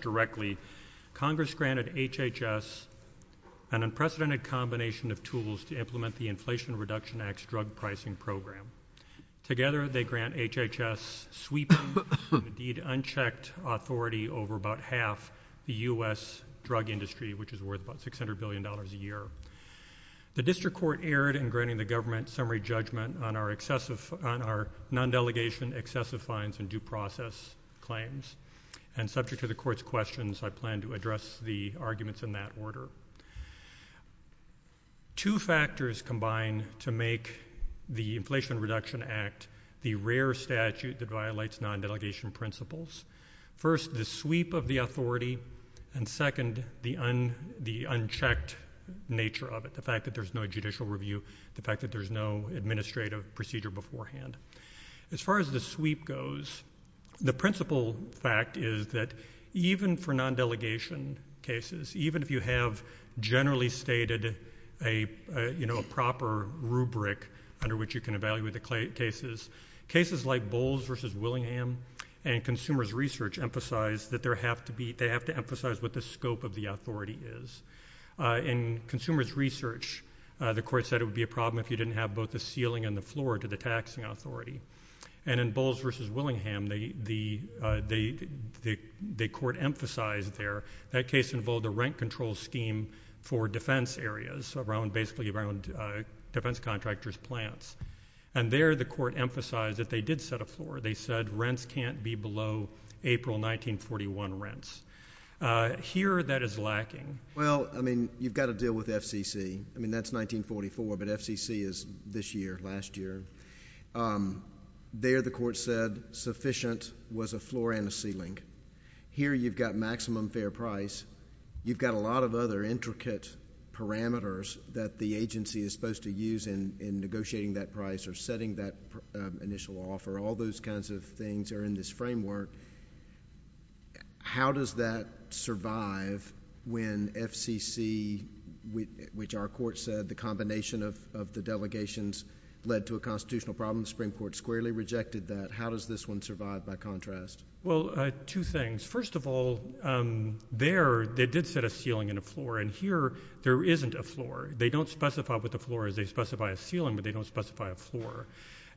directly, Congress granted HHS an unprecedented combination of tools to implement the Inflation Reduction Act's drug pricing program. Together, they grant HHS sweeping and indeed unchecked authority over about half the U.S. drug industry, which is worth about $600 billion a year. The district court erred in granting the government summary judgment on our non-delegation excessive fines and due process claims, and subject to the court's questions, I plan to address the arguments in that order. Two factors combine to make the Inflation Reduction Act the rare statute that violates non-delegation principles. First, the sweep of the authority, and second, the unchecked nature of it, the fact that there's no judicial review, the fact that there's no administrative procedure beforehand. As far as the sweep goes, the principal fact is that even for non-delegation cases, even if you have generally stated a proper rubric under which you can evaluate the cases, cases like Bowles v. Willingham and Consumers Research emphasize that they have to emphasize what the scope of the authority is. In Consumers Research, the court said it would be a problem if you didn't have both the ceiling and the floor to the taxing authority. And in Bowles v. Willingham, the court emphasized there, that case involved a rent control scheme for defense areas, basically around defense contractors' plants. And there, the court emphasized that they did set a floor. They said rents can't be below April 1941 rents. Here, that is lacking. Well, I mean, you've got to deal with FCC. I mean, that's 1944, but FCC is this year, last year. There, the court said sufficient was a floor and a ceiling. Here, you've got maximum fair price. You've got a lot of other intricate parameters that the agency is supposed to use in negotiating that price or setting that initial offer. All those kinds of things are in this framework. How does that survive when FCC, which our court said the combination of the delegations led to a constitutional problem, the Supreme Court squarely rejected that? How does this one survive by contrast? Well, two things. First of all, there, they did set a ceiling and a floor. And here, there isn't a floor. They don't specify what the floor is. They specify a ceiling, but they don't specify a floor.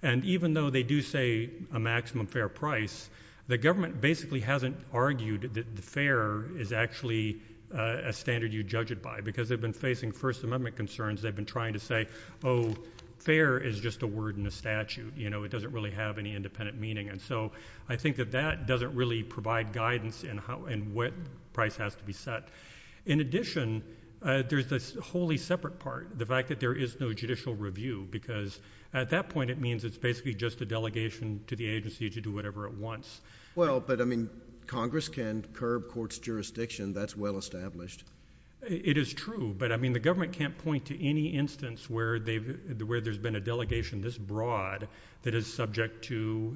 And even though they do say a maximum fair price, the government basically hasn't argued that the fair is actually a standard you judge it by, because they've been facing First Amendment concerns. They've been trying to say, oh, fair is just a word in a statute. You know, it doesn't really have any independent meaning. And so I think that that doesn't really provide guidance in how and what price has to be set. In addition, there's this wholly separate part, the fact that there is no judicial review, because at that point, it means it's basically just a delegation to the agency to do whatever it wants. Well, but, I mean, Congress can curb courts' jurisdiction. That's well established. It is true, but, I mean, the government can't point to any instance where they've, where there's been a delegation this broad that is subject to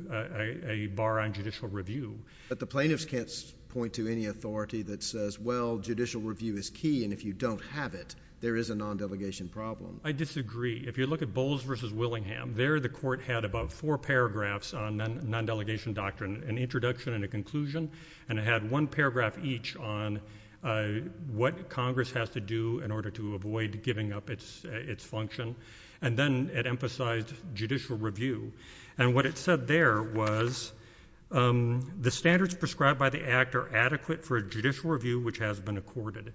a bar on judicial review. But the plaintiffs can't point to any authority that says, well, judicial review is key, and if you don't have it, there is a nondelegation problem. I disagree. If you look at Bowles v. Willingham, there the court had about four paragraphs on nondelegation doctrine, an introduction and a conclusion, and it had one paragraph each on what Congress has to do in order to avoid giving up its, its function. And then it emphasized judicial review. And what it said there was, um, the standards prescribed by the Act are adequate for a judicial review which has been accorded.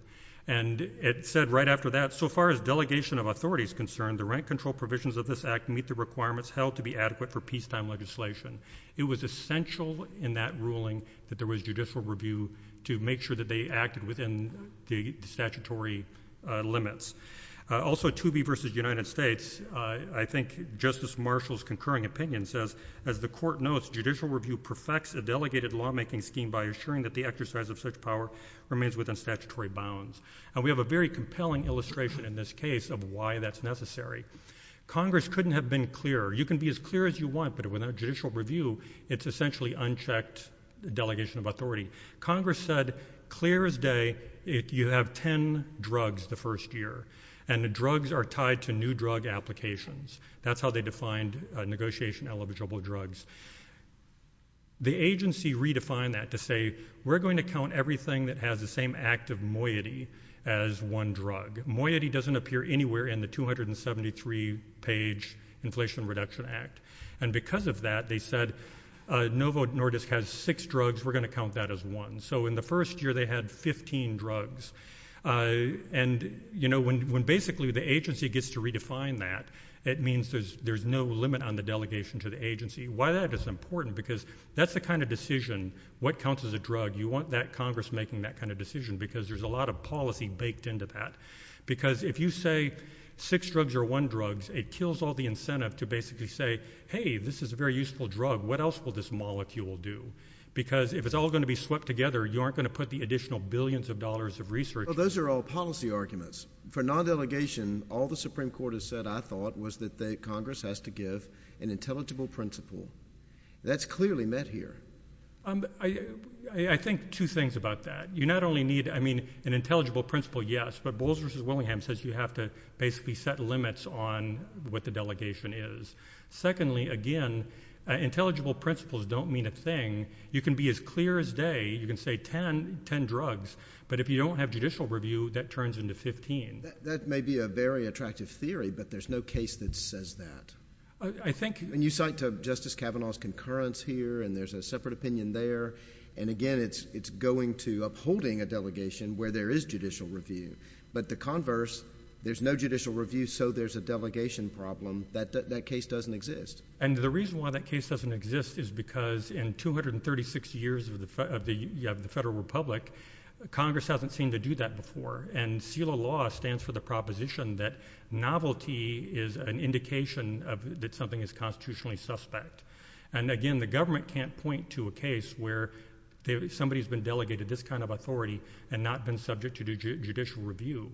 And it said right after that, so far as delegation of authority is concerned, the rent control provisions of this Act meet the requirements held to be adequate for peacetime legislation. It was essential in that ruling that there was judicial review to make sure that they acted within the statutory limits. Also, Toobie v. United States, I think Justice Marshall's concurring opinion says, as the court notes, judicial review perfects a delegated lawmaking scheme by assuring that the exercise of such power remains within statutory bounds. And we have a very compelling illustration in this case of why that's necessary. Congress couldn't have been clearer. You can be as clear as you want, but without judicial review, it's essentially unchecked delegation of authority. Congress said, clear as day, you have ten drugs the first year. And the drugs are tied to new drug applications. That's how they defined negotiation eligible drugs. The agency redefined that to say, we're going to count everything that has the same act of moiety as one drug. Moiety doesn't appear anywhere in the 273-page Inflation Reduction Act. And because of that, they said, Novo Nordisk has six drugs. We're going to count that as one. So in the first year, they had 15 drugs. And you know, when basically the agency gets to redefine that, it means there's no limit on the delegation to the agency. Why that is important, because that's the kind of decision, what counts as a drug, you want that Congress making that kind of decision, because there's a lot of policy baked into that. Because if you say, six drugs are one drugs, it kills all the incentive to basically say, Hey, this is a very useful drug. What else will this molecule do? Because if it's all going to be swept together, you aren't going to put the additional billions of dollars of research. Well, those are all policy arguments. For non-delegation, all the Supreme Court has said, I thought, was that Congress has to give an intelligible principle. That's clearly met here. I think two things about that. You not only need, I mean, an intelligible principle, yes, but Bowles v. Willingham says you have to basically set limits on what the delegation is. Secondly, again, intelligible principles don't mean a thing. You can be as clear as day, you can say 10 drugs, but if you don't have judicial review, that turns into 15. That may be a very attractive theory, but there's no case that says that. You cite Justice Kavanaugh's concurrence here, and there's a separate opinion there. Again, it's going to upholding a delegation where there is judicial review, but the converse, there's no judicial review, so there's a delegation problem. That case doesn't exist. The reason why that case doesn't exist is because in 236 years of the Federal Republic, Congress hasn't seemed to do that before. CELA law stands for the proposition that novelty is an indication that something is constitutionally suspect. Again, the government can't point to a case where somebody's been delegated this kind of authority and not been subject to judicial review.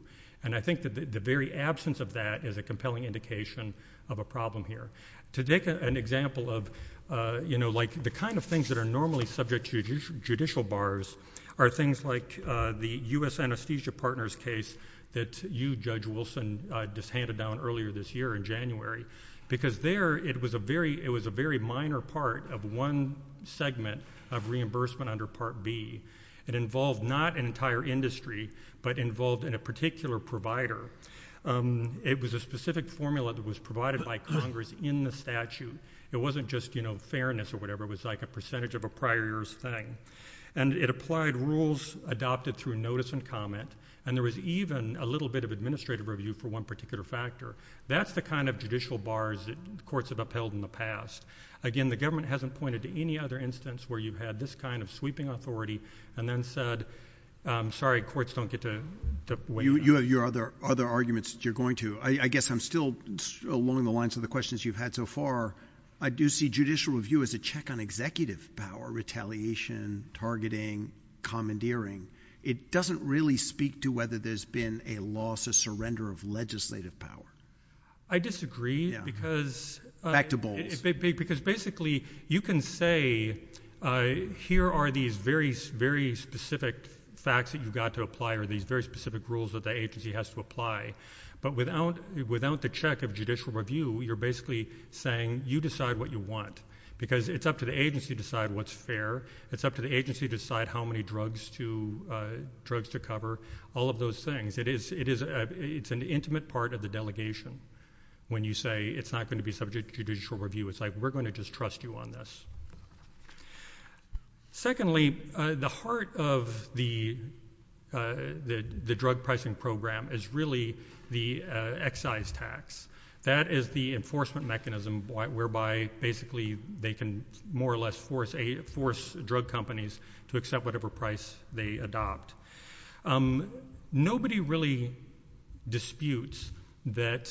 I think that the very absence of that is a compelling indication of a problem here. To take an example of the kind of things that are normally subject to judicial bars are things like the U.S. Anesthesia Partners case that you, Judge Wilson, just handed down earlier this year in January, because there, it was a very minor part of one segment of reimbursement under Part B. It involved not an entire industry, but involved a particular provider. It was a specific formula that was provided by Congress in the statute. It wasn't just fairness or whatever. It was like a percentage of a prior year's thing. And it applied rules adopted through notice and comment. And there was even a little bit of administrative review for one particular factor. That's the kind of judicial bars that courts have upheld in the past. Again, the government hasn't pointed to any other instance where you've had this kind of sweeping authority and then said, sorry, courts don't get to weigh in on that. You have your other arguments that you're going to. I guess I'm still along the lines of the questions you've had so far. I do see judicial review as a check on executive power, retaliation, targeting, commandeering. It doesn't really speak to whether there's been a loss, a surrender of legislative power. I disagree, because... Back to Bowles. Because basically, you can say, here are these very, very specific facts that you've got to apply, or these very specific rules that the agency has to apply. But without the check of judicial review, you're basically saying, you decide what you want. Because it's up to the agency to decide what's fair. It's up to the agency to decide how many drugs to cover. All of those things. It's an intimate part of the delegation when you say it's not going to be subject to judicial review. It's like, we're going to just trust you on this. Secondly, the heart of the drug pricing program is really the excise tax. That is the enforcement mechanism whereby, basically, they can more or less force drug companies to accept whatever price they adopt. Nobody really disputes that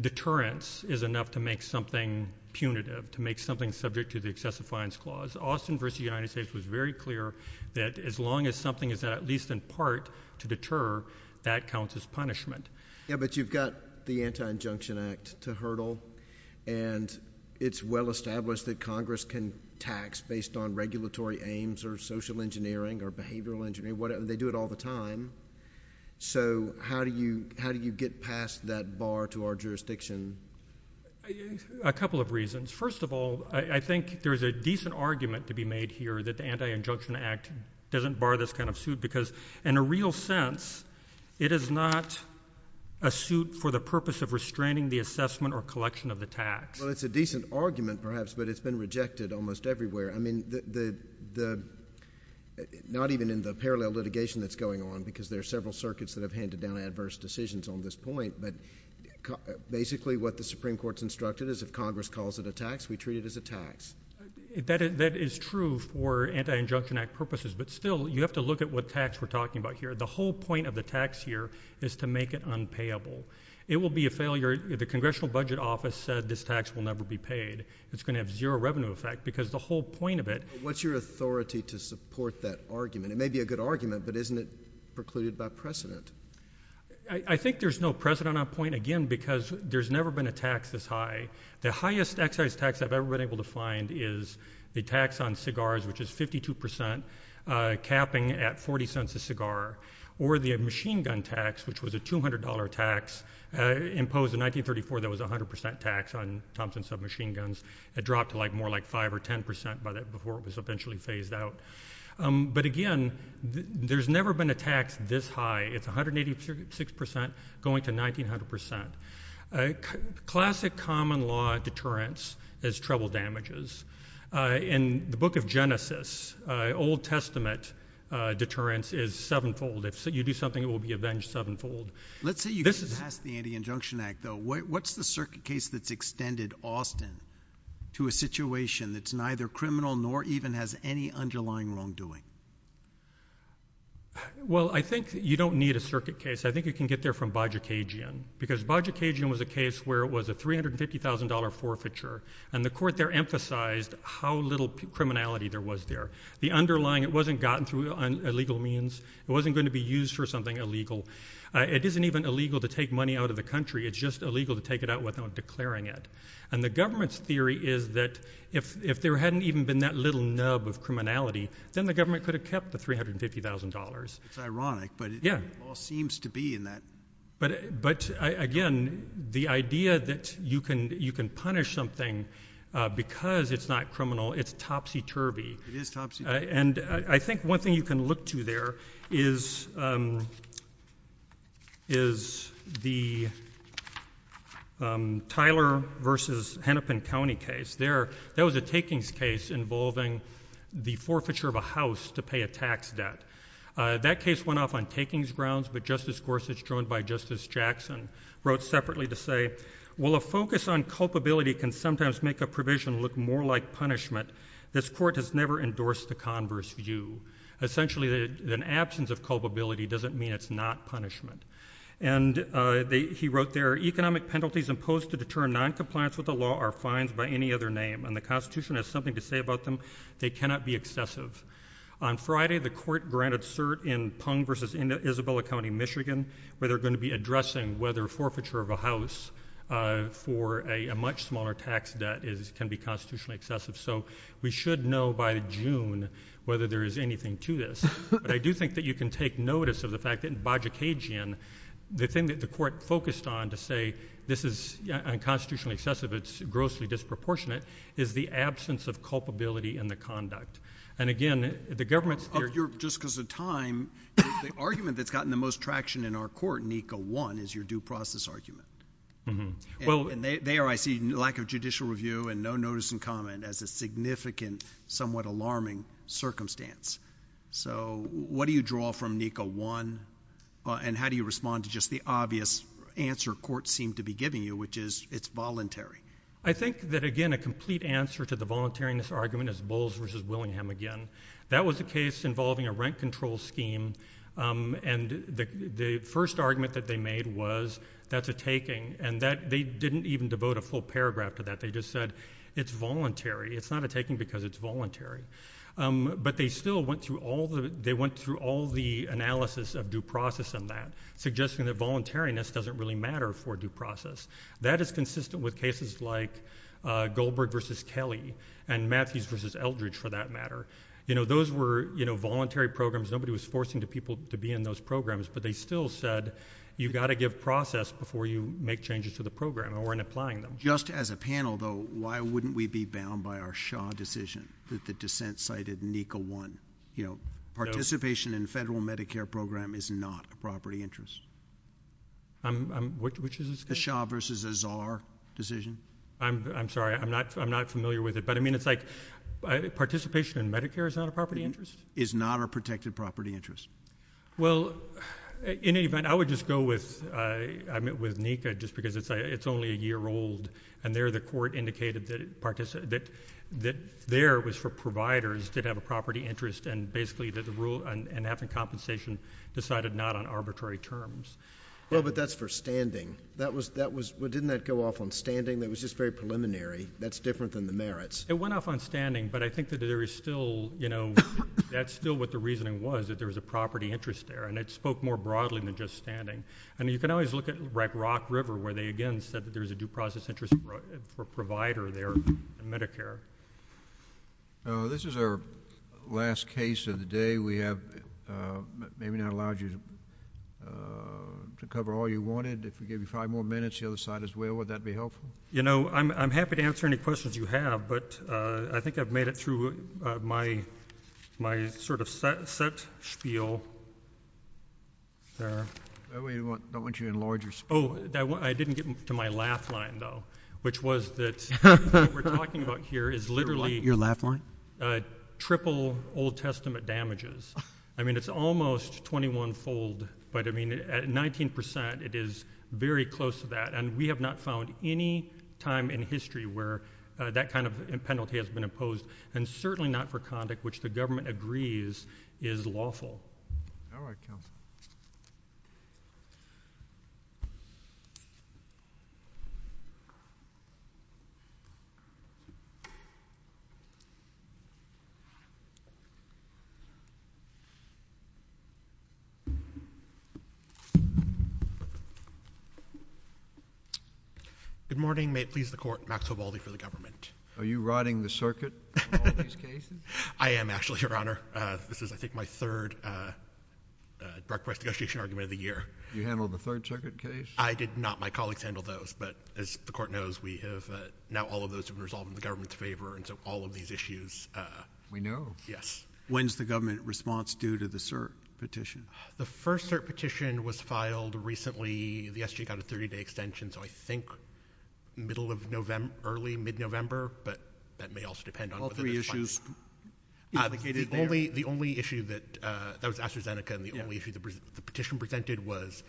deterrence is enough to make something punitive, to make something subject to the excessive fines clause. Austin v. The United States was very clear that as long as something is at least in part to deter, that counts as punishment. Yeah, but you've got the Anti-Injunction Act to hurdle. And it's well established that Congress can tax based on regulatory aims or social engineering or behavioral engineering. They do it all the time. So how do you get past that bar to our jurisdiction? A couple of reasons. First of all, I think there's a decent argument to be made here that the Anti-Injunction Act doesn't bar this kind of suit. Because in a real sense, it is not a suit for the purpose of restraining the assessment or collection of the tax. Well, it's a decent argument, perhaps, but it's been rejected almost everywhere. I mean, not even in the parallel litigation that's going on, because there are several circuits that have handed down adverse decisions on this point. But basically, what the Supreme Court's instructed is if Congress calls it a tax, we treat it as a tax. That is true for Anti-Injunction Act purposes. But still, you have to look at what tax we're talking about here. The whole point of the tax here is to make it unpayable. It will be a failure. The Congressional Budget Office said this tax will never be paid. It's going to have zero revenue effect, because the whole point of it— What's your authority to support that argument? It may be a good argument, but isn't it precluded by precedent? I think there's no precedent on that point, again, because there's never been a tax this high. The highest excise tax I've ever been able to find is the tax on cigars, which is 52%, capping at 40 cents a cigar. Or the machine gun tax, which was a $200 tax imposed in 1934 that was 100% tax on Thompson submachine guns. It dropped to more like 5% or 10% by that before it was eventually phased out. But again, there's never been a tax this high. It's 186% going to 1,900%. Classic common law deterrence is trouble damages. In the book of Genesis, Old Testament deterrence is sevenfold. If you do something, it will be avenged sevenfold. Let's say you get past the Anti-Injunction Act, though. What's the circuit case that's extended often to a situation that's neither criminal nor even has any underlying wrongdoing? Well, I think you don't need a circuit case. I think you can get there from Bajor Kajian, because Bajor Kajian was a case where it was a $350,000 forfeiture, and the court there emphasized how little criminality there was there. It wasn't gotten through illegal means. It wasn't going to be used for something illegal. It isn't even illegal to take money out of the country. It's just illegal to take it out without declaring it. The government's theory is that if there hadn't even been that little nub of criminality, then the government could have kept the $350,000. It's ironic, but it all seems to be in that. But again, the idea that you can punish something because it's not criminal, it's topsy-turvy. It is topsy-turvy. And I think one thing you can look to there is the Tyler v. Hennepin County case. That was a takings case involving the forfeiture of a house to pay a tax debt. That case went off on takings grounds, but Justice Gorsuch, joined by Justice Jackson, wrote separately to say, well, a focus on culpability can sometimes make a provision look more like punishment. This court has never endorsed the converse view. Essentially, an absence of culpability doesn't mean it's not punishment. And he wrote there, economic penalties imposed to deter noncompliance with the law are fines by any other name, and the Constitution has something to say about them. They cannot be excessive. On Friday, the court granted cert in Pung v. Isabella County, Michigan, where they're going to be addressing whether forfeiture of a house for a much smaller tax debt can be constitutionally excessive. So we should know by June whether there is anything to this. But I do think that you can take notice of the fact that in Bajikagian, the thing that is disproportionate is the absence of culpability in the conduct. And again, the government's theory— Just because of time, the argument that's gotten the most traction in our court, NICO 1, is your due process argument. And there I see lack of judicial review and no notice and comment as a significant, somewhat alarming circumstance. So what do you draw from NICO 1, and how do you respond to just the obvious answer courts seem to be giving you, which is it's voluntary? I think that, again, a complete answer to the voluntariness argument is Bowles v. Willingham again. That was a case involving a rent control scheme, and the first argument that they made was that's a taking. And they didn't even devote a full paragraph to that. They just said it's voluntary. It's not a taking because it's voluntary. But they still went through all the analysis of due process in that, suggesting that voluntariness doesn't really matter for due process. That is consistent with cases like Goldberg v. Kelly and Matthews v. Eldridge, for that matter. Those were voluntary programs. Nobody was forcing people to be in those programs, but they still said you've got to give process before you make changes to the program or in applying them. Just as a panel, though, why wouldn't we be bound by our Shaw decision that the dissent cited NICO 1? Participation in a federal Medicare program is not a property interest. Which is this case? The Shaw v. Azar decision. I'm sorry. I'm not familiar with it. But, I mean, it's like participation in Medicare is not a property interest? Is not a protected property interest. Well, in any event, I would just go with NICA just because it's only a year old. And there the court indicated that there was for providers to have a property interest and basically that the rule and having compensation decided not on arbitrary terms. Well, but that's for standing. That was, well, didn't that go off on standing? That was just very preliminary. That's different than the merits. It went off on standing, but I think that there is still, you know, that's still what the reasoning was, that there was a property interest there. And it spoke more broadly than just standing. And you can always look at Rock River where they again said that there was a due process interest for a provider there in Medicare. This is our last case of the day. We have maybe not allowed you to cover all you wanted. If we give you five more minutes, the other side as well, would that be helpful? You know, I'm happy to answer any questions you have, but I think I've made it through my sort of set spiel there. I don't want you to enlarge your spiel. Oh, I didn't get to my laugh line, though, which was that what we're talking about here is literally triple Old Testament damages. I mean, it's almost 21-fold, but I mean, at 19 percent, it is very close to that. And we have not found any time in history where that kind of penalty has been imposed, and certainly not for conduct which the government agrees is lawful. All right, counsel. Good morning. May it please the Court, Max Vivaldi for the government. Are you riding the circuit in all these cases? I am, actually, Your Honor. This is, I think, my third direct press negotiation argument of the year. You handled the third circuit case? I did not. My colleagues handled those, but as the Court knows, we have now all of those have been resolved in the government's favor, and so all of these issues... We know. Yes. When's the government response due to the cert petition? The first cert petition was filed recently. The SGA got a 30-day extension, so I think middle of November, early, mid-November, but that may also depend on... The only issue that... that was AstraZeneca, and the only issue the petition presented was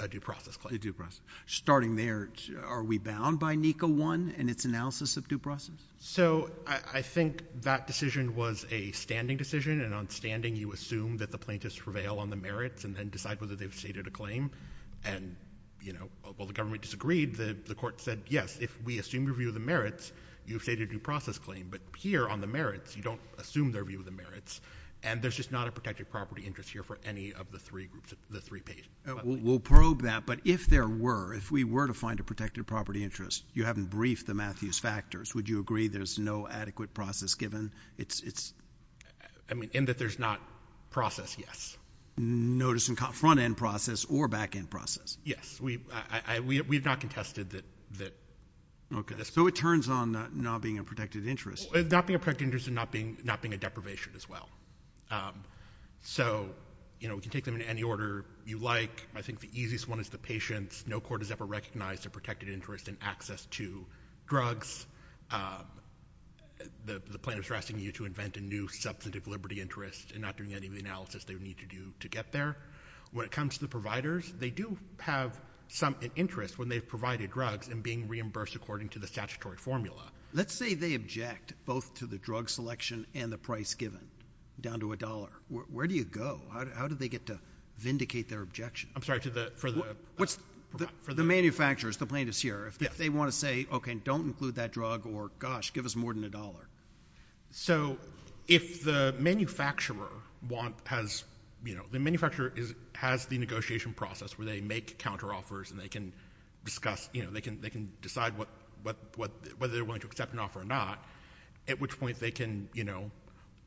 a due process claim. A due process. Starting there, are we bound by NECA 1 and its analysis of due process? So, I think that decision was a standing decision, and on standing, you assume that the plaintiffs prevail on the merits, and then decide whether they've stated a claim. And, you know, while the government disagreed, the Court said, yes, if we assume your view of the merits, you've stated a due process claim. But here, on the merits, you don't assume their view of the merits, and there's just not a protected property interest here for any of the three groups, the three pages. We'll probe that, but if there were, if we were to find a protected property interest, you haven't briefed the Matthews factors, would you agree there's no adequate process given? It's... I mean, in that there's not process, yes. Notice of front-end process or back-end process. Yes. We've not contested that... Okay. So, it turns on not being a protected interest. Not being a protected interest and not being a deprivation as well. So, you know, we can take them in any order you like. I think the easiest one is the patients. No court has ever recognized a protected interest in access to drugs. The plaintiffs are asking you to invent a new substantive liberty interest, and not doing any of the analysis they would need to do to get there. When it comes to the providers, they do have some interest when they've provided drugs and being reimbursed according to the statutory formula. Let's say they object both to the drug selection and the price given, down to a dollar. Where do you go? How do they get to vindicate their objection? I'm sorry, to the... The manufacturers, the plaintiffs here, if they want to say, okay, don't include that drug or, gosh, give us more than a dollar. So, if the manufacturer has, you know, the manufacturer has the negotiation process where they make counteroffers and they can discuss, you know, they can decide whether they're willing to accept an offer or not, at which point they can, you know,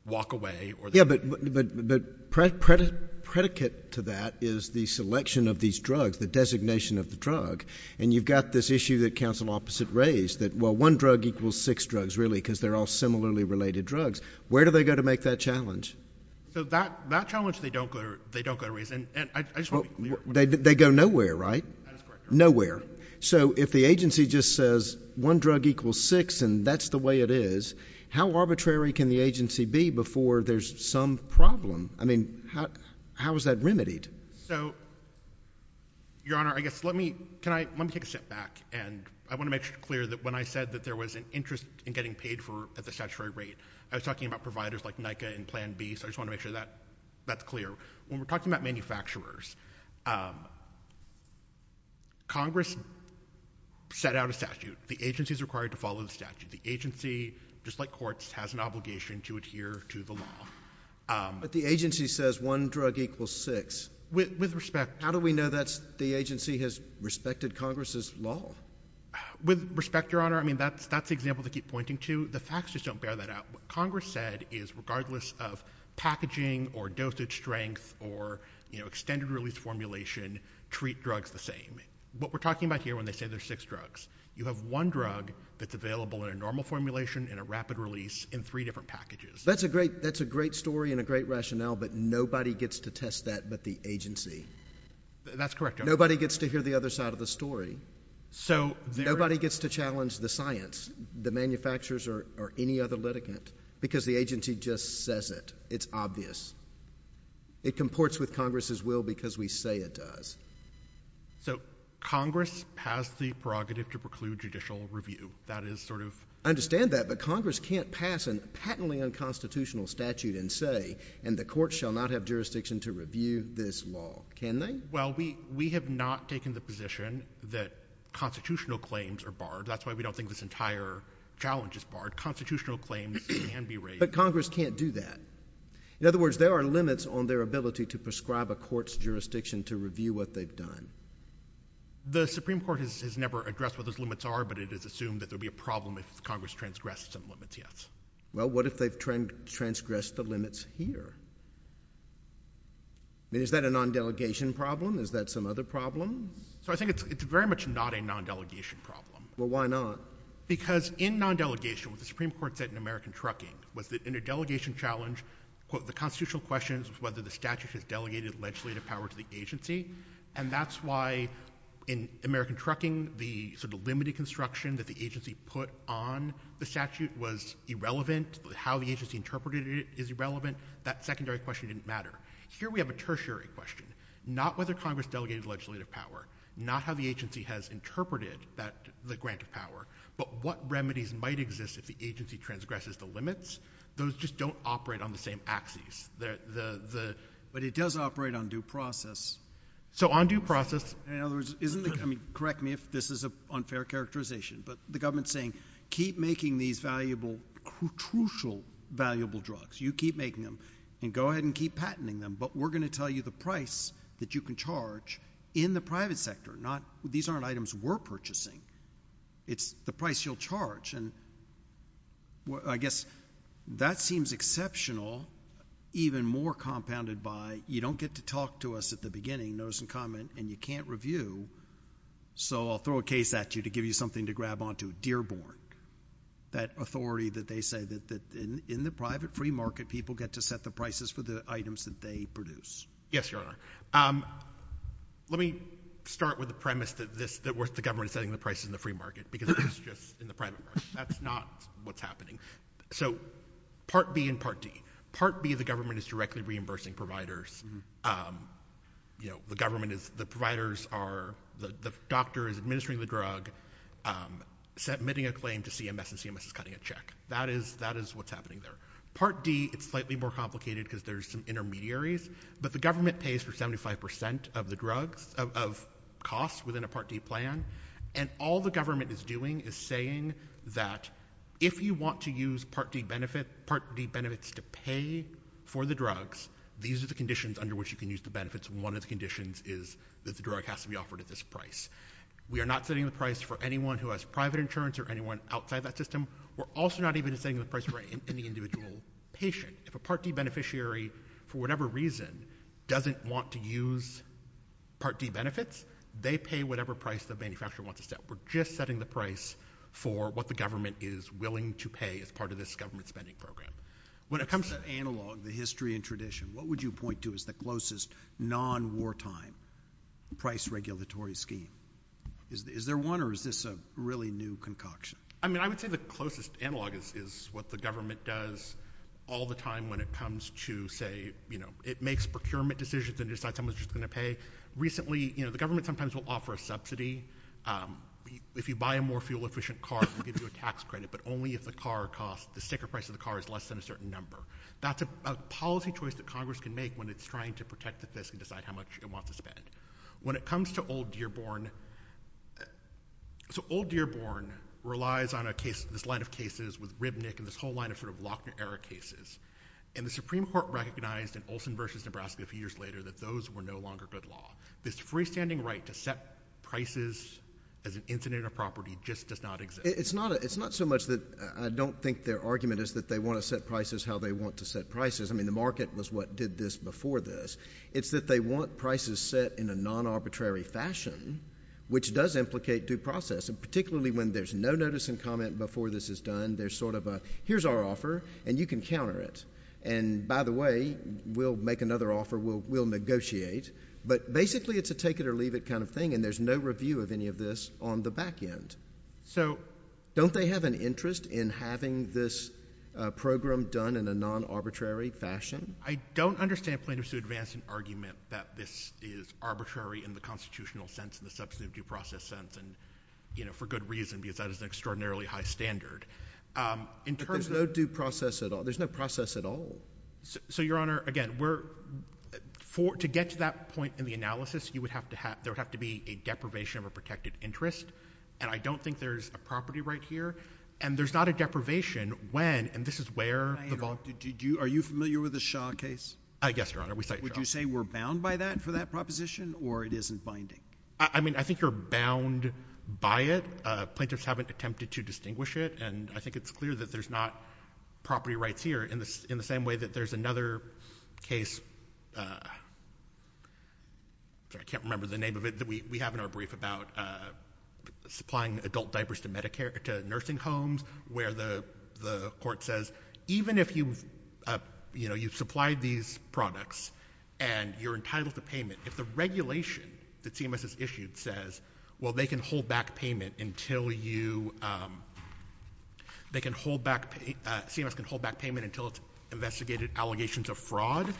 walk away or... Yeah, but predicate to that is the selection of these drugs, the designation of the drug. And you've got this issue that counsel opposite raised that, well, one drug equals six drugs, really, because they're all similarly related drugs. Where do they go to make that challenge? So that challenge they don't go to raise. They go nowhere, right? Nowhere. So, if the agency just says one drug equals six and that's the way it is, how arbitrary can the agency be before there's some problem? I mean, how is that remedied? So, Your Honor, I guess let me... can I... let me take a step back. And I want to make it clear that when I said that there was an interest in getting paid for at the statutory rate, I was talking about providers like NICA and Plan B. So I just want to make sure that that's clear. When we're talking about manufacturers, Congress set out a statute. The agency is required to follow the statute. The agency, just like courts, has an obligation to adhere to the law. But the agency says one drug equals six. With respect... How do we know that the agency has respected Congress's law? With respect, Your Honor, I mean, that's the example to keep pointing to. The facts just don't bear that out. What Congress said is regardless of packaging or dosage strength or, you know, extended release formulation, treat drugs the same. What we're talking about here when they say there's six drugs, you have one drug that's available in a normal formulation and a rapid release in three different packages. That's a great story and a great rationale, but nobody gets to test that but the agency. That's correct, Your Honor. Nobody gets to hear the other side of the story. So... Nobody gets to challenge the science. The manufacturers or any other litigant because the agency just says it. It's obvious. It comports with Congress's will because we say it does. So Congress has the prerogative to preclude judicial review. That is sort of... I understand that, but Congress can't pass a patently unconstitutional statute and say, and the court shall not have jurisdiction to review this law. Can they? Well, we have not taken the position that constitutional claims are barred. That's why we don't think this entire challenge is barred. Constitutional claims can be raised. But Congress can't do that. In other words, there are limits on their ability to prescribe a court's jurisdiction to review what they've done. The Supreme Court has never addressed what those limits are, but it is assumed that there would be a problem if Congress transgressed some limits, yes. Well, what if they've transgressed the limits here? I mean, is that a non-delegation problem? Is that some other problem? So I think it's very much not a non-delegation problem. Well, why not? Because in non-delegation, what the Supreme Court said in American Trucking was that in a delegation challenge, the constitutional question is whether the statute has delegated legislative power to the agency, and that's why in American Trucking, the sort of limited construction that the agency put on the statute was irrelevant. How the agency interpreted it is irrelevant. That secondary question didn't matter. Here we have a tertiary question, not whether Congress delegated legislative power, not how the agency has interpreted the grant of power, but what remedies might exist if the agency transgresses the limits. Those just don't operate on the same axes. But it does operate on due process. So on due process. In other words, correct me if this is an unfair characterization, but the government's saying keep making these valuable, crucial, valuable drugs. You keep making them, and go ahead and keep patenting them, but we're going to tell you the price that you can charge in the private sector. These aren't items we're purchasing. It's the price you'll charge. I guess that seems exceptional, even more compounded by you don't get to talk to us at the beginning, notice and comment, and you can't review, so I'll throw a case at you to give you something to grab onto, Dearborn, that authority that they say that in the private free market, only people get to set the prices for the items that they produce. Yes, Your Honor. Let me start with the premise that the government is setting the prices in the free market, because that's just in the private market. That's not what's happening. So Part B and Part D. Part B, the government is directly reimbursing providers. The government is, the providers are, the doctor is administering the drug, submitting a claim to CMS, and CMS is cutting a check. That is what's happening there. Part D, it's slightly more complicated because there's some intermediaries, but the government pays for 75% of the drugs, of costs within a Part D plan, and all the government is doing is saying that if you want to use Part D benefits to pay for the drugs, these are the conditions under which you can use the benefits, and one of the conditions is that the drug has to be offered at this price. We are not setting the price for anyone who has private insurance or anyone outside that system. We're also not even setting the price for any individual patient. If a Part D beneficiary, for whatever reason, doesn't want to use Part D benefits, they pay whatever price the manufacturer wants to set. We're just setting the price for what the government is willing to pay as part of this government spending program. When it comes to analog, the history and tradition, what would you point to as the closest non-wartime price regulatory scheme? Is there one, or is this a really new concoction? I would say the closest analog is what the government does all the time when it comes to, say, it makes procurement decisions and decides how much it's going to pay. Recently, the government sometimes will offer a subsidy. If you buy a more fuel-efficient car, it will give you a tax credit, but only if the sticker price of the car is less than a certain number. That's a policy choice that Congress can make when it's trying to protect the fiscal side, how much it wants to spend. When it comes to Old Dearborn, so Old Dearborn relies on this line of cases with Ribnick and this whole line of sort of Lochner-era cases, and the Supreme Court recognized in Olsen v. Nebraska a few years later that those were no longer good law. This freestanding right to set prices as an incident of property just does not exist. It's not so much that I don't think their argument is that they want to set prices how they want to set prices. I mean, the market was what did this before this. It's that they want prices set in a non-arbitrary fashion, which does implicate due process, and particularly when there's no notice and comment before this is done. There's sort of a here's our offer, and you can counter it. And by the way, we'll make another offer. We'll negotiate. But basically it's a take it or leave it kind of thing, and there's no review of any of this on the back end. So don't they have an interest in having this program done in a non-arbitrary fashion? I don't understand plaintiffs who advance an argument that this is arbitrary in the constitutional sense, in the substantive due process sense, and, you know, for good reason, because that is an extraordinarily high standard. But there's no due process at all. There's no process at all. So, Your Honor, again, to get to that point in the analysis, there would have to be a deprivation of a protected interest, and I don't think there's a property right here. And there's not a deprivation when, and this is where the vault. Are you familiar with the Shaw case? Yes, Your Honor. Would you say we're bound by that for that proposition, or it isn't binding? I mean, I think you're bound by it. Plaintiffs haven't attempted to distinguish it, and I think it's clear that there's not property rights here, in the same way that there's another case, sorry, I can't remember the name of it, that we have in our brief about supplying adult diapers to nursing homes, where the court says, even if you've supplied these products and you're entitled to payment, if the regulation that CMS has issued says, well, they can hold back payment until you, they can hold back, CMS can hold back payment until it's investigated allegations of fraud,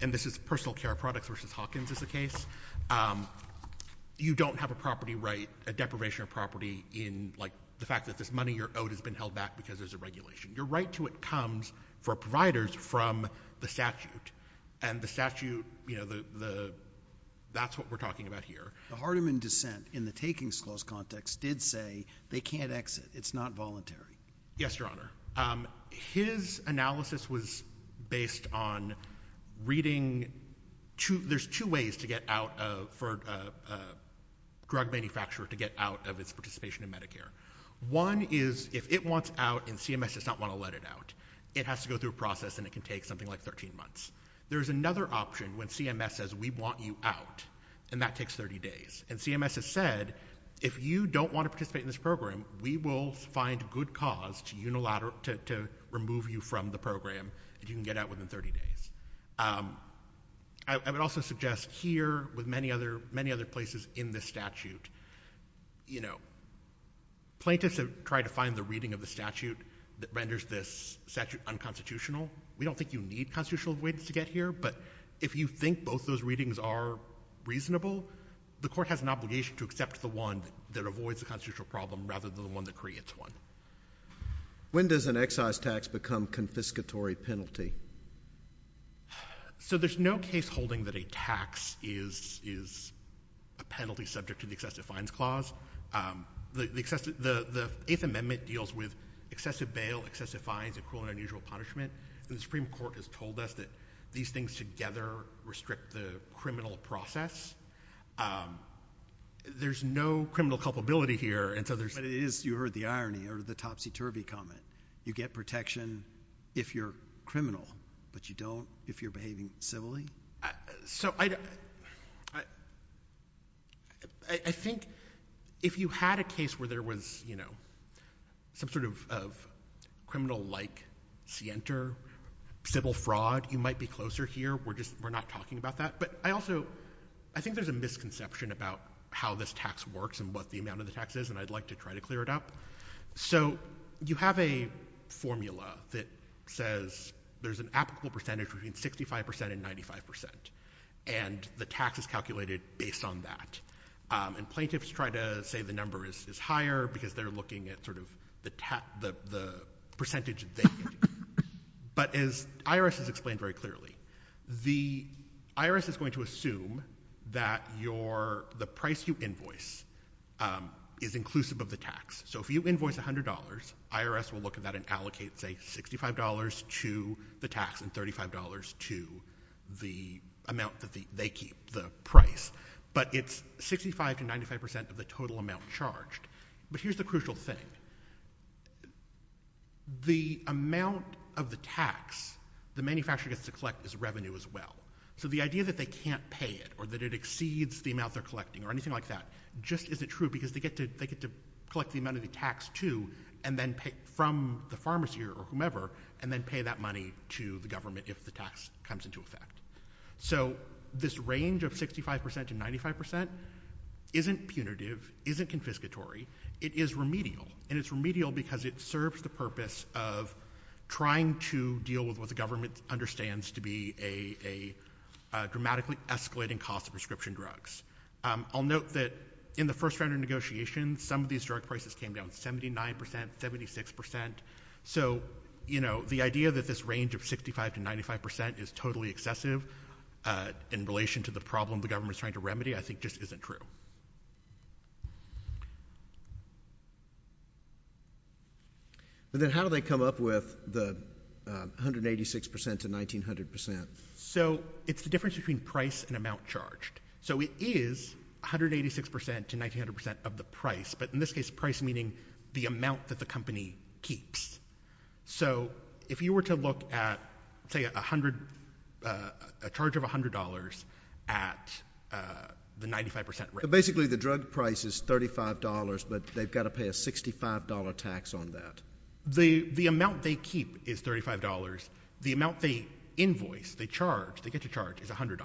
and this is personal care products versus Hawkins is the case, you don't have a property right, a deprivation of property in, like, the fact that this money you're owed has been held back because there's a regulation. Your right to it comes, for providers, from the statute. And the statute, you know, the, that's what we're talking about here. The Hardiman dissent, in the takings clause context, did say they can't exit, it's not voluntary. Yes, Your Honor. His analysis was based on reading, there's two ways to get out of, for a drug manufacturer to get out of its participation in Medicare. One is, if it wants out and CMS does not want to let it out, it has to go through a process and it can take something like 13 months. There's another option when CMS says, we want you out, and that takes 30 days. And CMS has said, if you don't want to participate in this program, we will find good cause to unilateral, to remove you from the program, if you can get out within 30 days. I would also suggest here, with many other, many other places in this statute, you know, plaintiffs have tried to find the reading of the statute that renders this statute unconstitutional. We don't think you need constitutional avoidance to get here, but if you think both those readings are reasonable, the court has an obligation to accept the one that avoids the constitutional problem, rather than the one that creates one. When does an excise tax become confiscatory penalty? So there's no case holding that a tax is a penalty subject to the excessive fines clause. The Eighth Amendment deals with excessive bail, excessive fines, and cruel and unusual punishment, and the Supreme Court has told us that these things together restrict the criminal process. There's no criminal culpability here. But you heard the irony, or the topsy-turvy comment. You get protection if you're criminal, but you don't if you're behaving civilly? So I think if you had a case where there was, you know, some sort of criminal-like scienter, civil fraud, you might be closer here. We're not talking about that. But I also think there's a misconception about how this tax works and what the amount of the tax is, and I'd like to try to clear it up. So you have a formula that says there's an applicable percentage between 65% and 95%, and the tax is calculated based on that. And plaintiffs try to say the number is higher because they're looking at sort of the percentage they get. But as IRS has explained very clearly, the IRS is going to assume that the price you invoice is inclusive of the tax. So if you invoice $100, IRS will look at that and allocate, say, $65 to the tax and $35 to the amount that they keep, the price. But it's 65% to 95% of the total amount charged. But here's the crucial thing. The amount of the tax the manufacturer gets to collect is revenue as well. So the idea that they can't pay it or that it exceeds the amount they're collecting or anything like that just isn't true because they get to collect the amount of the tax too from the pharmacy or whomever and then pay that money to the government if the tax comes into effect. So this range of 65% to 95% isn't punitive, isn't confiscatory. It is remedial, and it's remedial because it serves the purpose of trying to deal with what the government understands to be a dramatically escalating cost of prescription drugs. I'll note that in the first round of negotiations, some of these drug prices came down 79%, 76%. So the idea that this range of 65% to 95% is totally excessive in relation to the problem the government is trying to remedy I think just isn't true. But then how do they come up with the 186% to 1,900%? So it's the difference between price and amount charged. So it is 186% to 1,900% of the price, but in this case price meaning the amount that the company keeps. So if you were to look at, say, a charge of $100 at the 95% rate. Basically the drug price is $35, but they've got to pay a $65 tax on that. The amount they keep is $35. The amount they invoice, they charge, they get to charge is $100.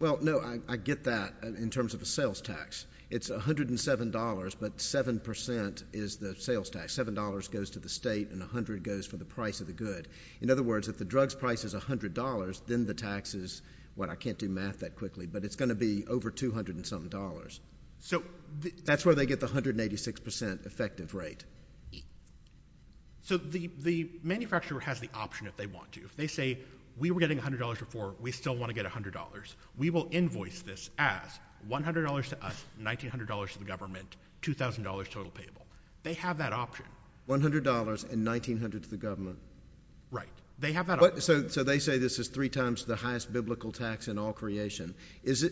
Well, no, I get that in terms of a sales tax. It's $107, but 7% is the sales tax. $7 goes to the state and $100 goes for the price of the good. In other words, if the drug's price is $100, then the tax is, well, I can't do math that quickly, but it's going to be over $200 and something. So that's where they get the 186% effective rate. So the manufacturer has the option if they want to. If they say, we were getting $100 before, we still want to get $100. We will invoice this as $100 to us, $1,900 to the government, $2,000 total payable. They have that option. $100 and $1,900 to the government. Right. They have that option. So they say this is three times the highest biblical tax in all creation. Is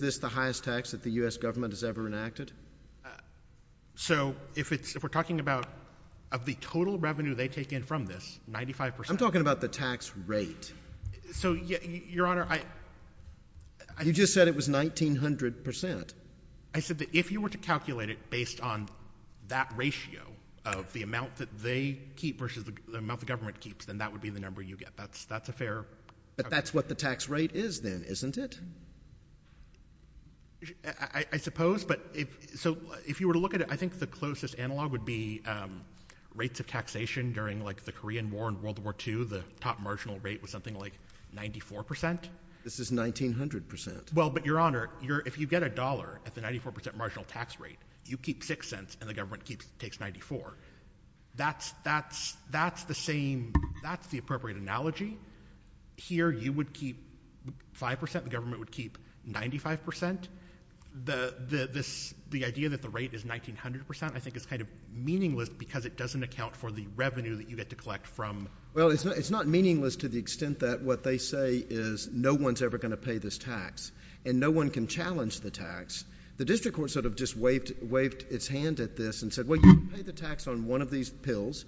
this the highest tax that the U.S. government has ever enacted? So if we're talking about of the total revenue they take in from this, 95%? I'm talking about the tax rate. So, Your Honor, I— You just said it was 1,900%. I said that if you were to calculate it based on that ratio of the amount that they keep versus the amount the government keeps, then that would be the number you get. That's a fair— But that's what the tax rate is then, isn't it? I suppose, but if—so if you were to look at it, I think the closest analog would be rates of taxation during, like, the Korean War and World War II, the top marginal rate was something like 94%. This is 1,900%. Well, but, Your Honor, if you get a dollar at the 94% marginal tax rate, you keep 6 cents and the government takes 94. That's the same—that's the appropriate analogy. Here you would keep 5%. The government would keep 95%. The idea that the rate is 1,900% I think is kind of meaningless because it doesn't account for the revenue that you get to collect from— Well, it's not meaningless to the extent that what they say is no one's ever going to pay this tax and no one can challenge the tax. The district court sort of just waved its hand at this and said, Well, you can pay the tax on one of these pills,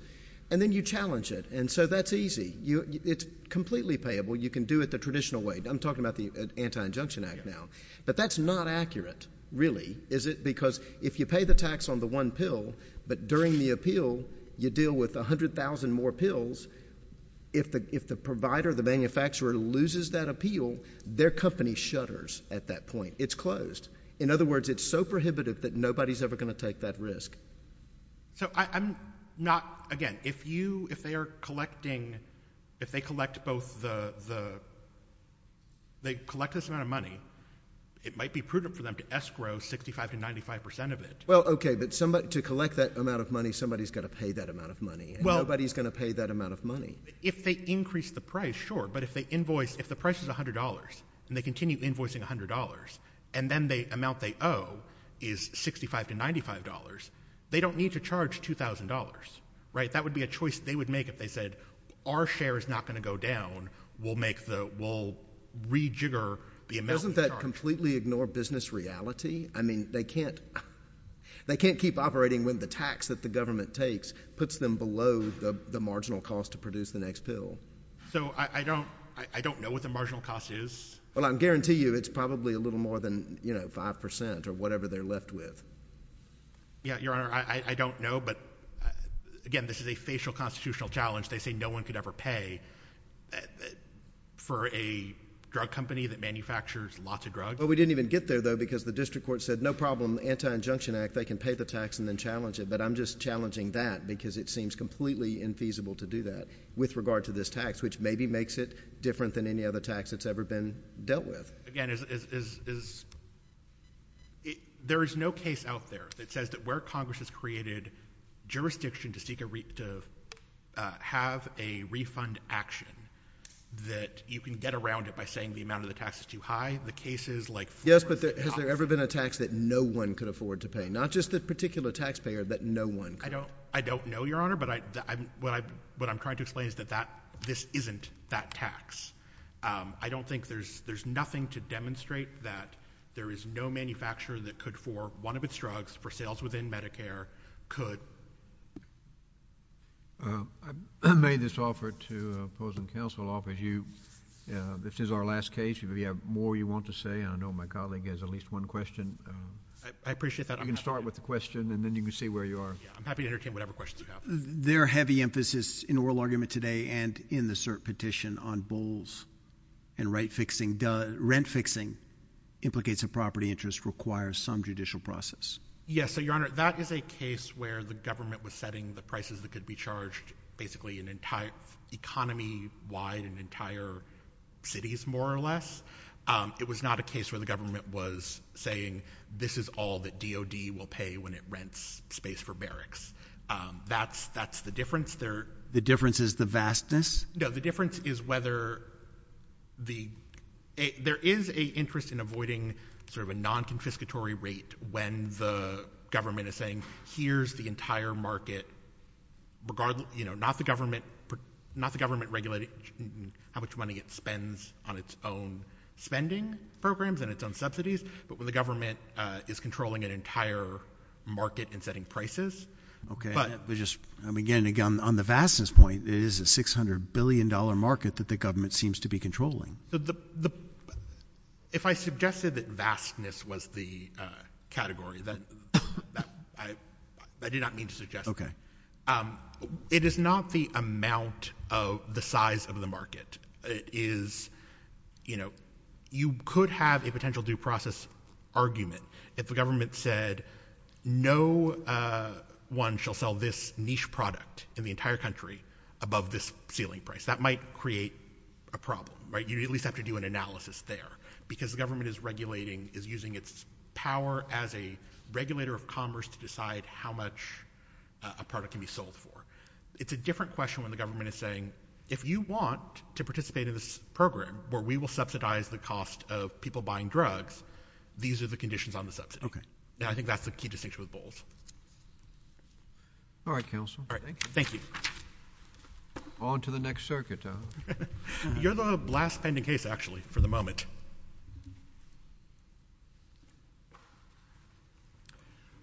and then you challenge it. And so that's easy. It's completely payable. You can do it the traditional way. I'm talking about the Anti-Injunction Act now. But that's not accurate, really, is it? Because if you pay the tax on the one pill but during the appeal you deal with 100,000 more pills, if the provider, the manufacturer, loses that appeal, their company shutters at that point. It's closed. In other words, it's so prohibitive that nobody's ever going to take that risk. So I'm not—again, if you—if they are collecting— if they collect both the—they collect this amount of money, it might be prudent for them to escrow 65% to 95% of it. Well, okay, but to collect that amount of money, somebody's got to pay that amount of money. Nobody's going to pay that amount of money. If they increase the price, sure. But if they invoice—if the price is $100 and they continue invoicing $100 and then the amount they owe is $65 to $95, they don't need to charge $2,000, right? That would be a choice they would make if they said, our share is not going to go down. We'll make the—we'll rejigger the amount we charge. Doesn't that completely ignore business reality? I mean, they can't keep operating when the tax that the government takes puts them below the marginal cost to produce the next pill. So I don't—I don't know what the marginal cost is. Well, I guarantee you it's probably a little more than, you know, 5% or whatever they're left with. Yeah, Your Honor, I don't know. But, again, this is a facial constitutional challenge. They say no one could ever pay for a drug company that manufactures lots of drugs. Well, we didn't even get there, though, because the district court said, no problem, the Anti-Injunction Act, they can pay the tax and then challenge it. But I'm just challenging that because it seems completely infeasible to do that with regard to this tax, which maybe makes it different than any other tax that's ever been dealt with. Again, is—there is no case out there that says that where Congress has created jurisdiction to seek a—to have a refund action that you can get around it by saying the amount of the tax is too high. The cases like— Yes, but has there ever been a tax that no one could afford to pay? Not just the particular taxpayer, that no one could— I don't know, Your Honor, but what I'm trying to explain is that this isn't that tax. I don't think there's nothing to demonstrate that there is no manufacturer that could, for one of its drugs, for sales within Medicare, could— I made this offer to opposing counsel off as you—this is our last case. If you have more you want to say, I know my colleague has at least one question. I appreciate that. You can start with the question, and then you can say where you are. I'm happy to entertain whatever questions you have. There are heavy emphases in oral argument today and in the cert petition on bulls and right fixing. Rent fixing implicates a property interest, requires some judicial process. Yes, so, Your Honor, that is a case where the government was setting the prices that could be charged basically an entire—economy-wide and entire cities, more or less. It was not a case where the government was saying, this is all that DOD will pay when it rents space for barracks. That's the difference. The difference is the vastness? No, the difference is whether the— there is an interest in avoiding sort of a non-confiscatory rate when the government is saying, here's the entire market, not the government regulating how much money it spends on its own spending programs and its own subsidies, but when the government is controlling an entire market and setting prices. Again, on the vastness point, it is a $600 billion market that the government seems to be controlling. If I suggested that vastness was the category, I did not mean to suggest that. It is not the amount of the size of the market. It is, you know, you could have a potential due process argument if the government said, no one shall sell this niche product in the entire country above this ceiling price. That might create a problem, right? You at least have to do an analysis there because the government is regulating, is using its power as a regulator of commerce to decide how much a product can be sold for. It's a different question when the government is saying, if you want to participate in this program where we will subsidize the cost of people buying drugs, these are the conditions on the subsidy. Okay. And I think that's the key distinction with Bowles. All right, counsel. Thank you. On to the next circuit. You're the last pending case, actually, for the moment.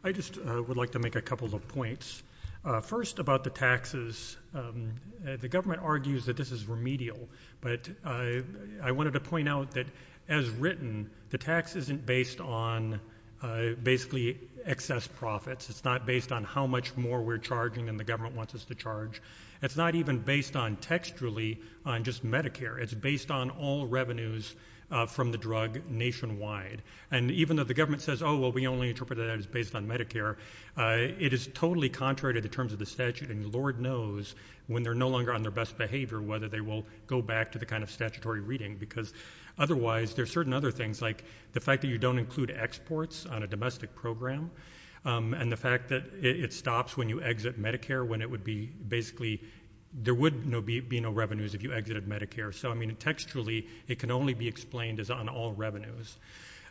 I just would like to make a couple of points. First, about the taxes, the government argues that this is remedial, but I wanted to point out that, as written, the tax isn't based on basically excess profits. It's not based on how much more we're charging than the government wants us to charge. It's not even based on textually on just Medicare. It's based on all revenues from the drug nationwide. And even though the government says, oh, well, we only interpret that as based on Medicare, it is totally contrary to the terms of the statute, and Lord knows when they're no longer on their best behavior whether they will go back to the kind of statutory reading because otherwise there are certain other things, like the fact that you don't include exports on a domestic program and the fact that it stops when you exit Medicare when it would be basically there would be no revenues if you exited Medicare. So, I mean, textually it can only be explained as on all revenues.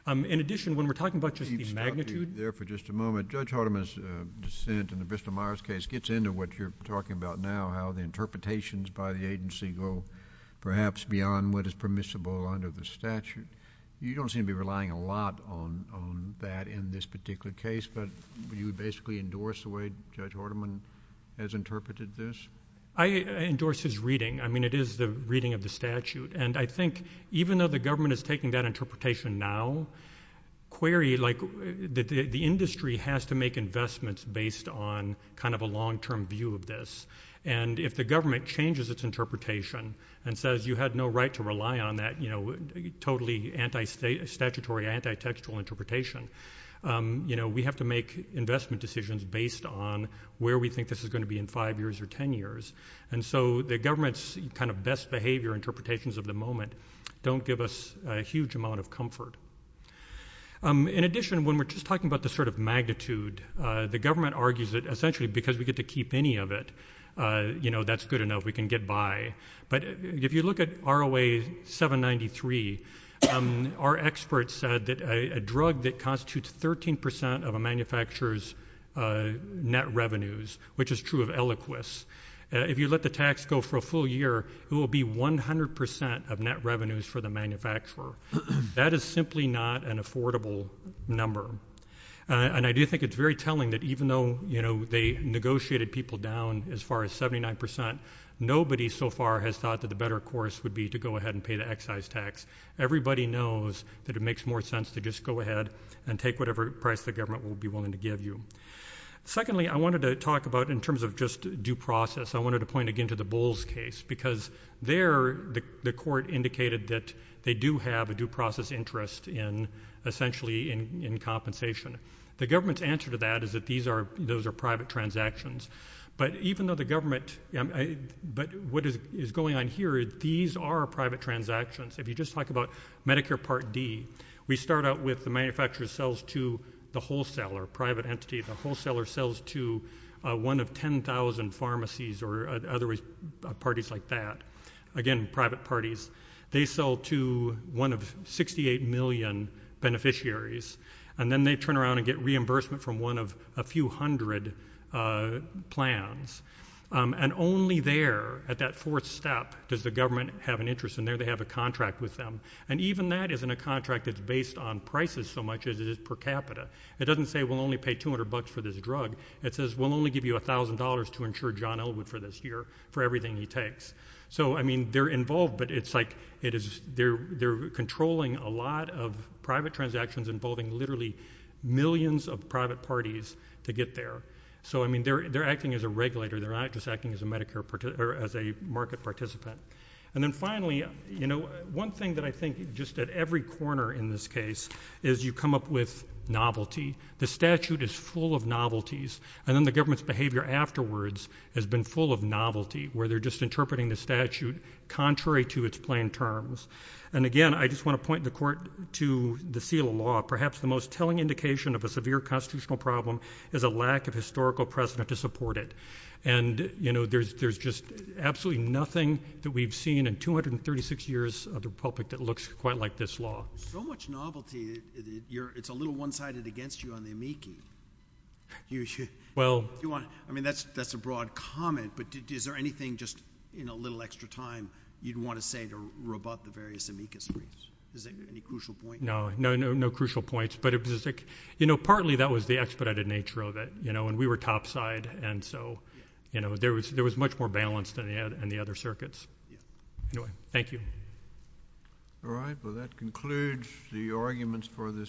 In addition, when we're talking about just the magnitude... Let me stop you there for just a moment. Judge Hardiman's dissent in the Bristol-Myers case gets into what you're talking about now, how the interpretations by the agency go perhaps beyond what is permissible under the statute. You don't seem to be relying a lot on that in this particular case, but you basically endorse the way Judge Hardiman has interpreted this? I endorse his reading. I mean, it is the reading of the statute, and I think even though the government is taking that interpretation now, query, like, the industry has to make investments based on kind of a long-term view of this, and if the government changes its interpretation and says you had no right to rely on that, you know, totally anti-statutory, anti-textual interpretation, you know, we have to make investment decisions based on where we think this is going to be in 5 years or 10 years. And so the government's kind of best behavior interpretations of the moment don't give us a huge amount of comfort. In addition, when we're just talking about the sort of magnitude, the government argues that essentially because we get to keep any of it, you know, that's good enough, we can get by. But if you look at ROA 793, our experts said that a drug that constitutes 13% of a manufacturer's net revenues, which is true of Eliquis, if you let the tax go for a full year, it will be 100% of net revenues for the manufacturer. That is simply not an affordable number. And I do think it's very telling that even though, you know, they negotiated people down as far as 79%, nobody so far has thought that the better course would be to go ahead and pay the excise tax. Everybody knows that it makes more sense to just go ahead and take whatever price the government will be willing to give you. Secondly, I wanted to talk about in terms of just due process, I wanted to point again to the Bowles case because there the court indicated that they do have a due process interest in essentially in compensation. The government's answer to that is that those are private transactions. But even though the government, but what is going on here, these are private transactions. If you just talk about Medicare Part D, we start out with the manufacturer sells to the wholesaler, private entity. The wholesaler sells to one of 10,000 pharmacies or other parties like that, again, private parties. They sell to one of 68 million beneficiaries, and then they turn around and get reimbursement from one of a few hundred plans. Only there at that fourth step does the government have an interest in there. They have a contract with them. Even that isn't a contract that's based on prices so much as it is per capita. It doesn't say we'll only pay $200 for this drug. It says we'll only give you $1,000 to insure John Elwood for this year for everything he takes. They're involved, but it's like they're controlling a lot of private transactions involving literally millions of private parties to get there. They're acting as a regulator. They're not just acting as a market participant. Then finally, one thing that I think just at every corner in this case is you come up with novelty. The statute is full of novelties, and then the government's behavior afterwards has been full of novelty where they're just interpreting the statute contrary to its plain terms. Again, I just want to point the court to the seal of law. Perhaps the most telling indication of a severe constitutional problem is a lack of historical precedent to support it. There's just absolutely nothing that we've seen in 236 years of the Republic that looks quite like this law. So much novelty. It's a little one-sided against you on the amici. I mean, that's a broad comment, but is there anything just in a little extra time you'd want to say to rebut the various amicus briefs? Is there any crucial point? No, no crucial points. Partly that was the expedited nature of it, and we were topside, and so there was much more balance than the other circuits. Anyway, thank you. All right. Well, that concludes the arguments for this morning.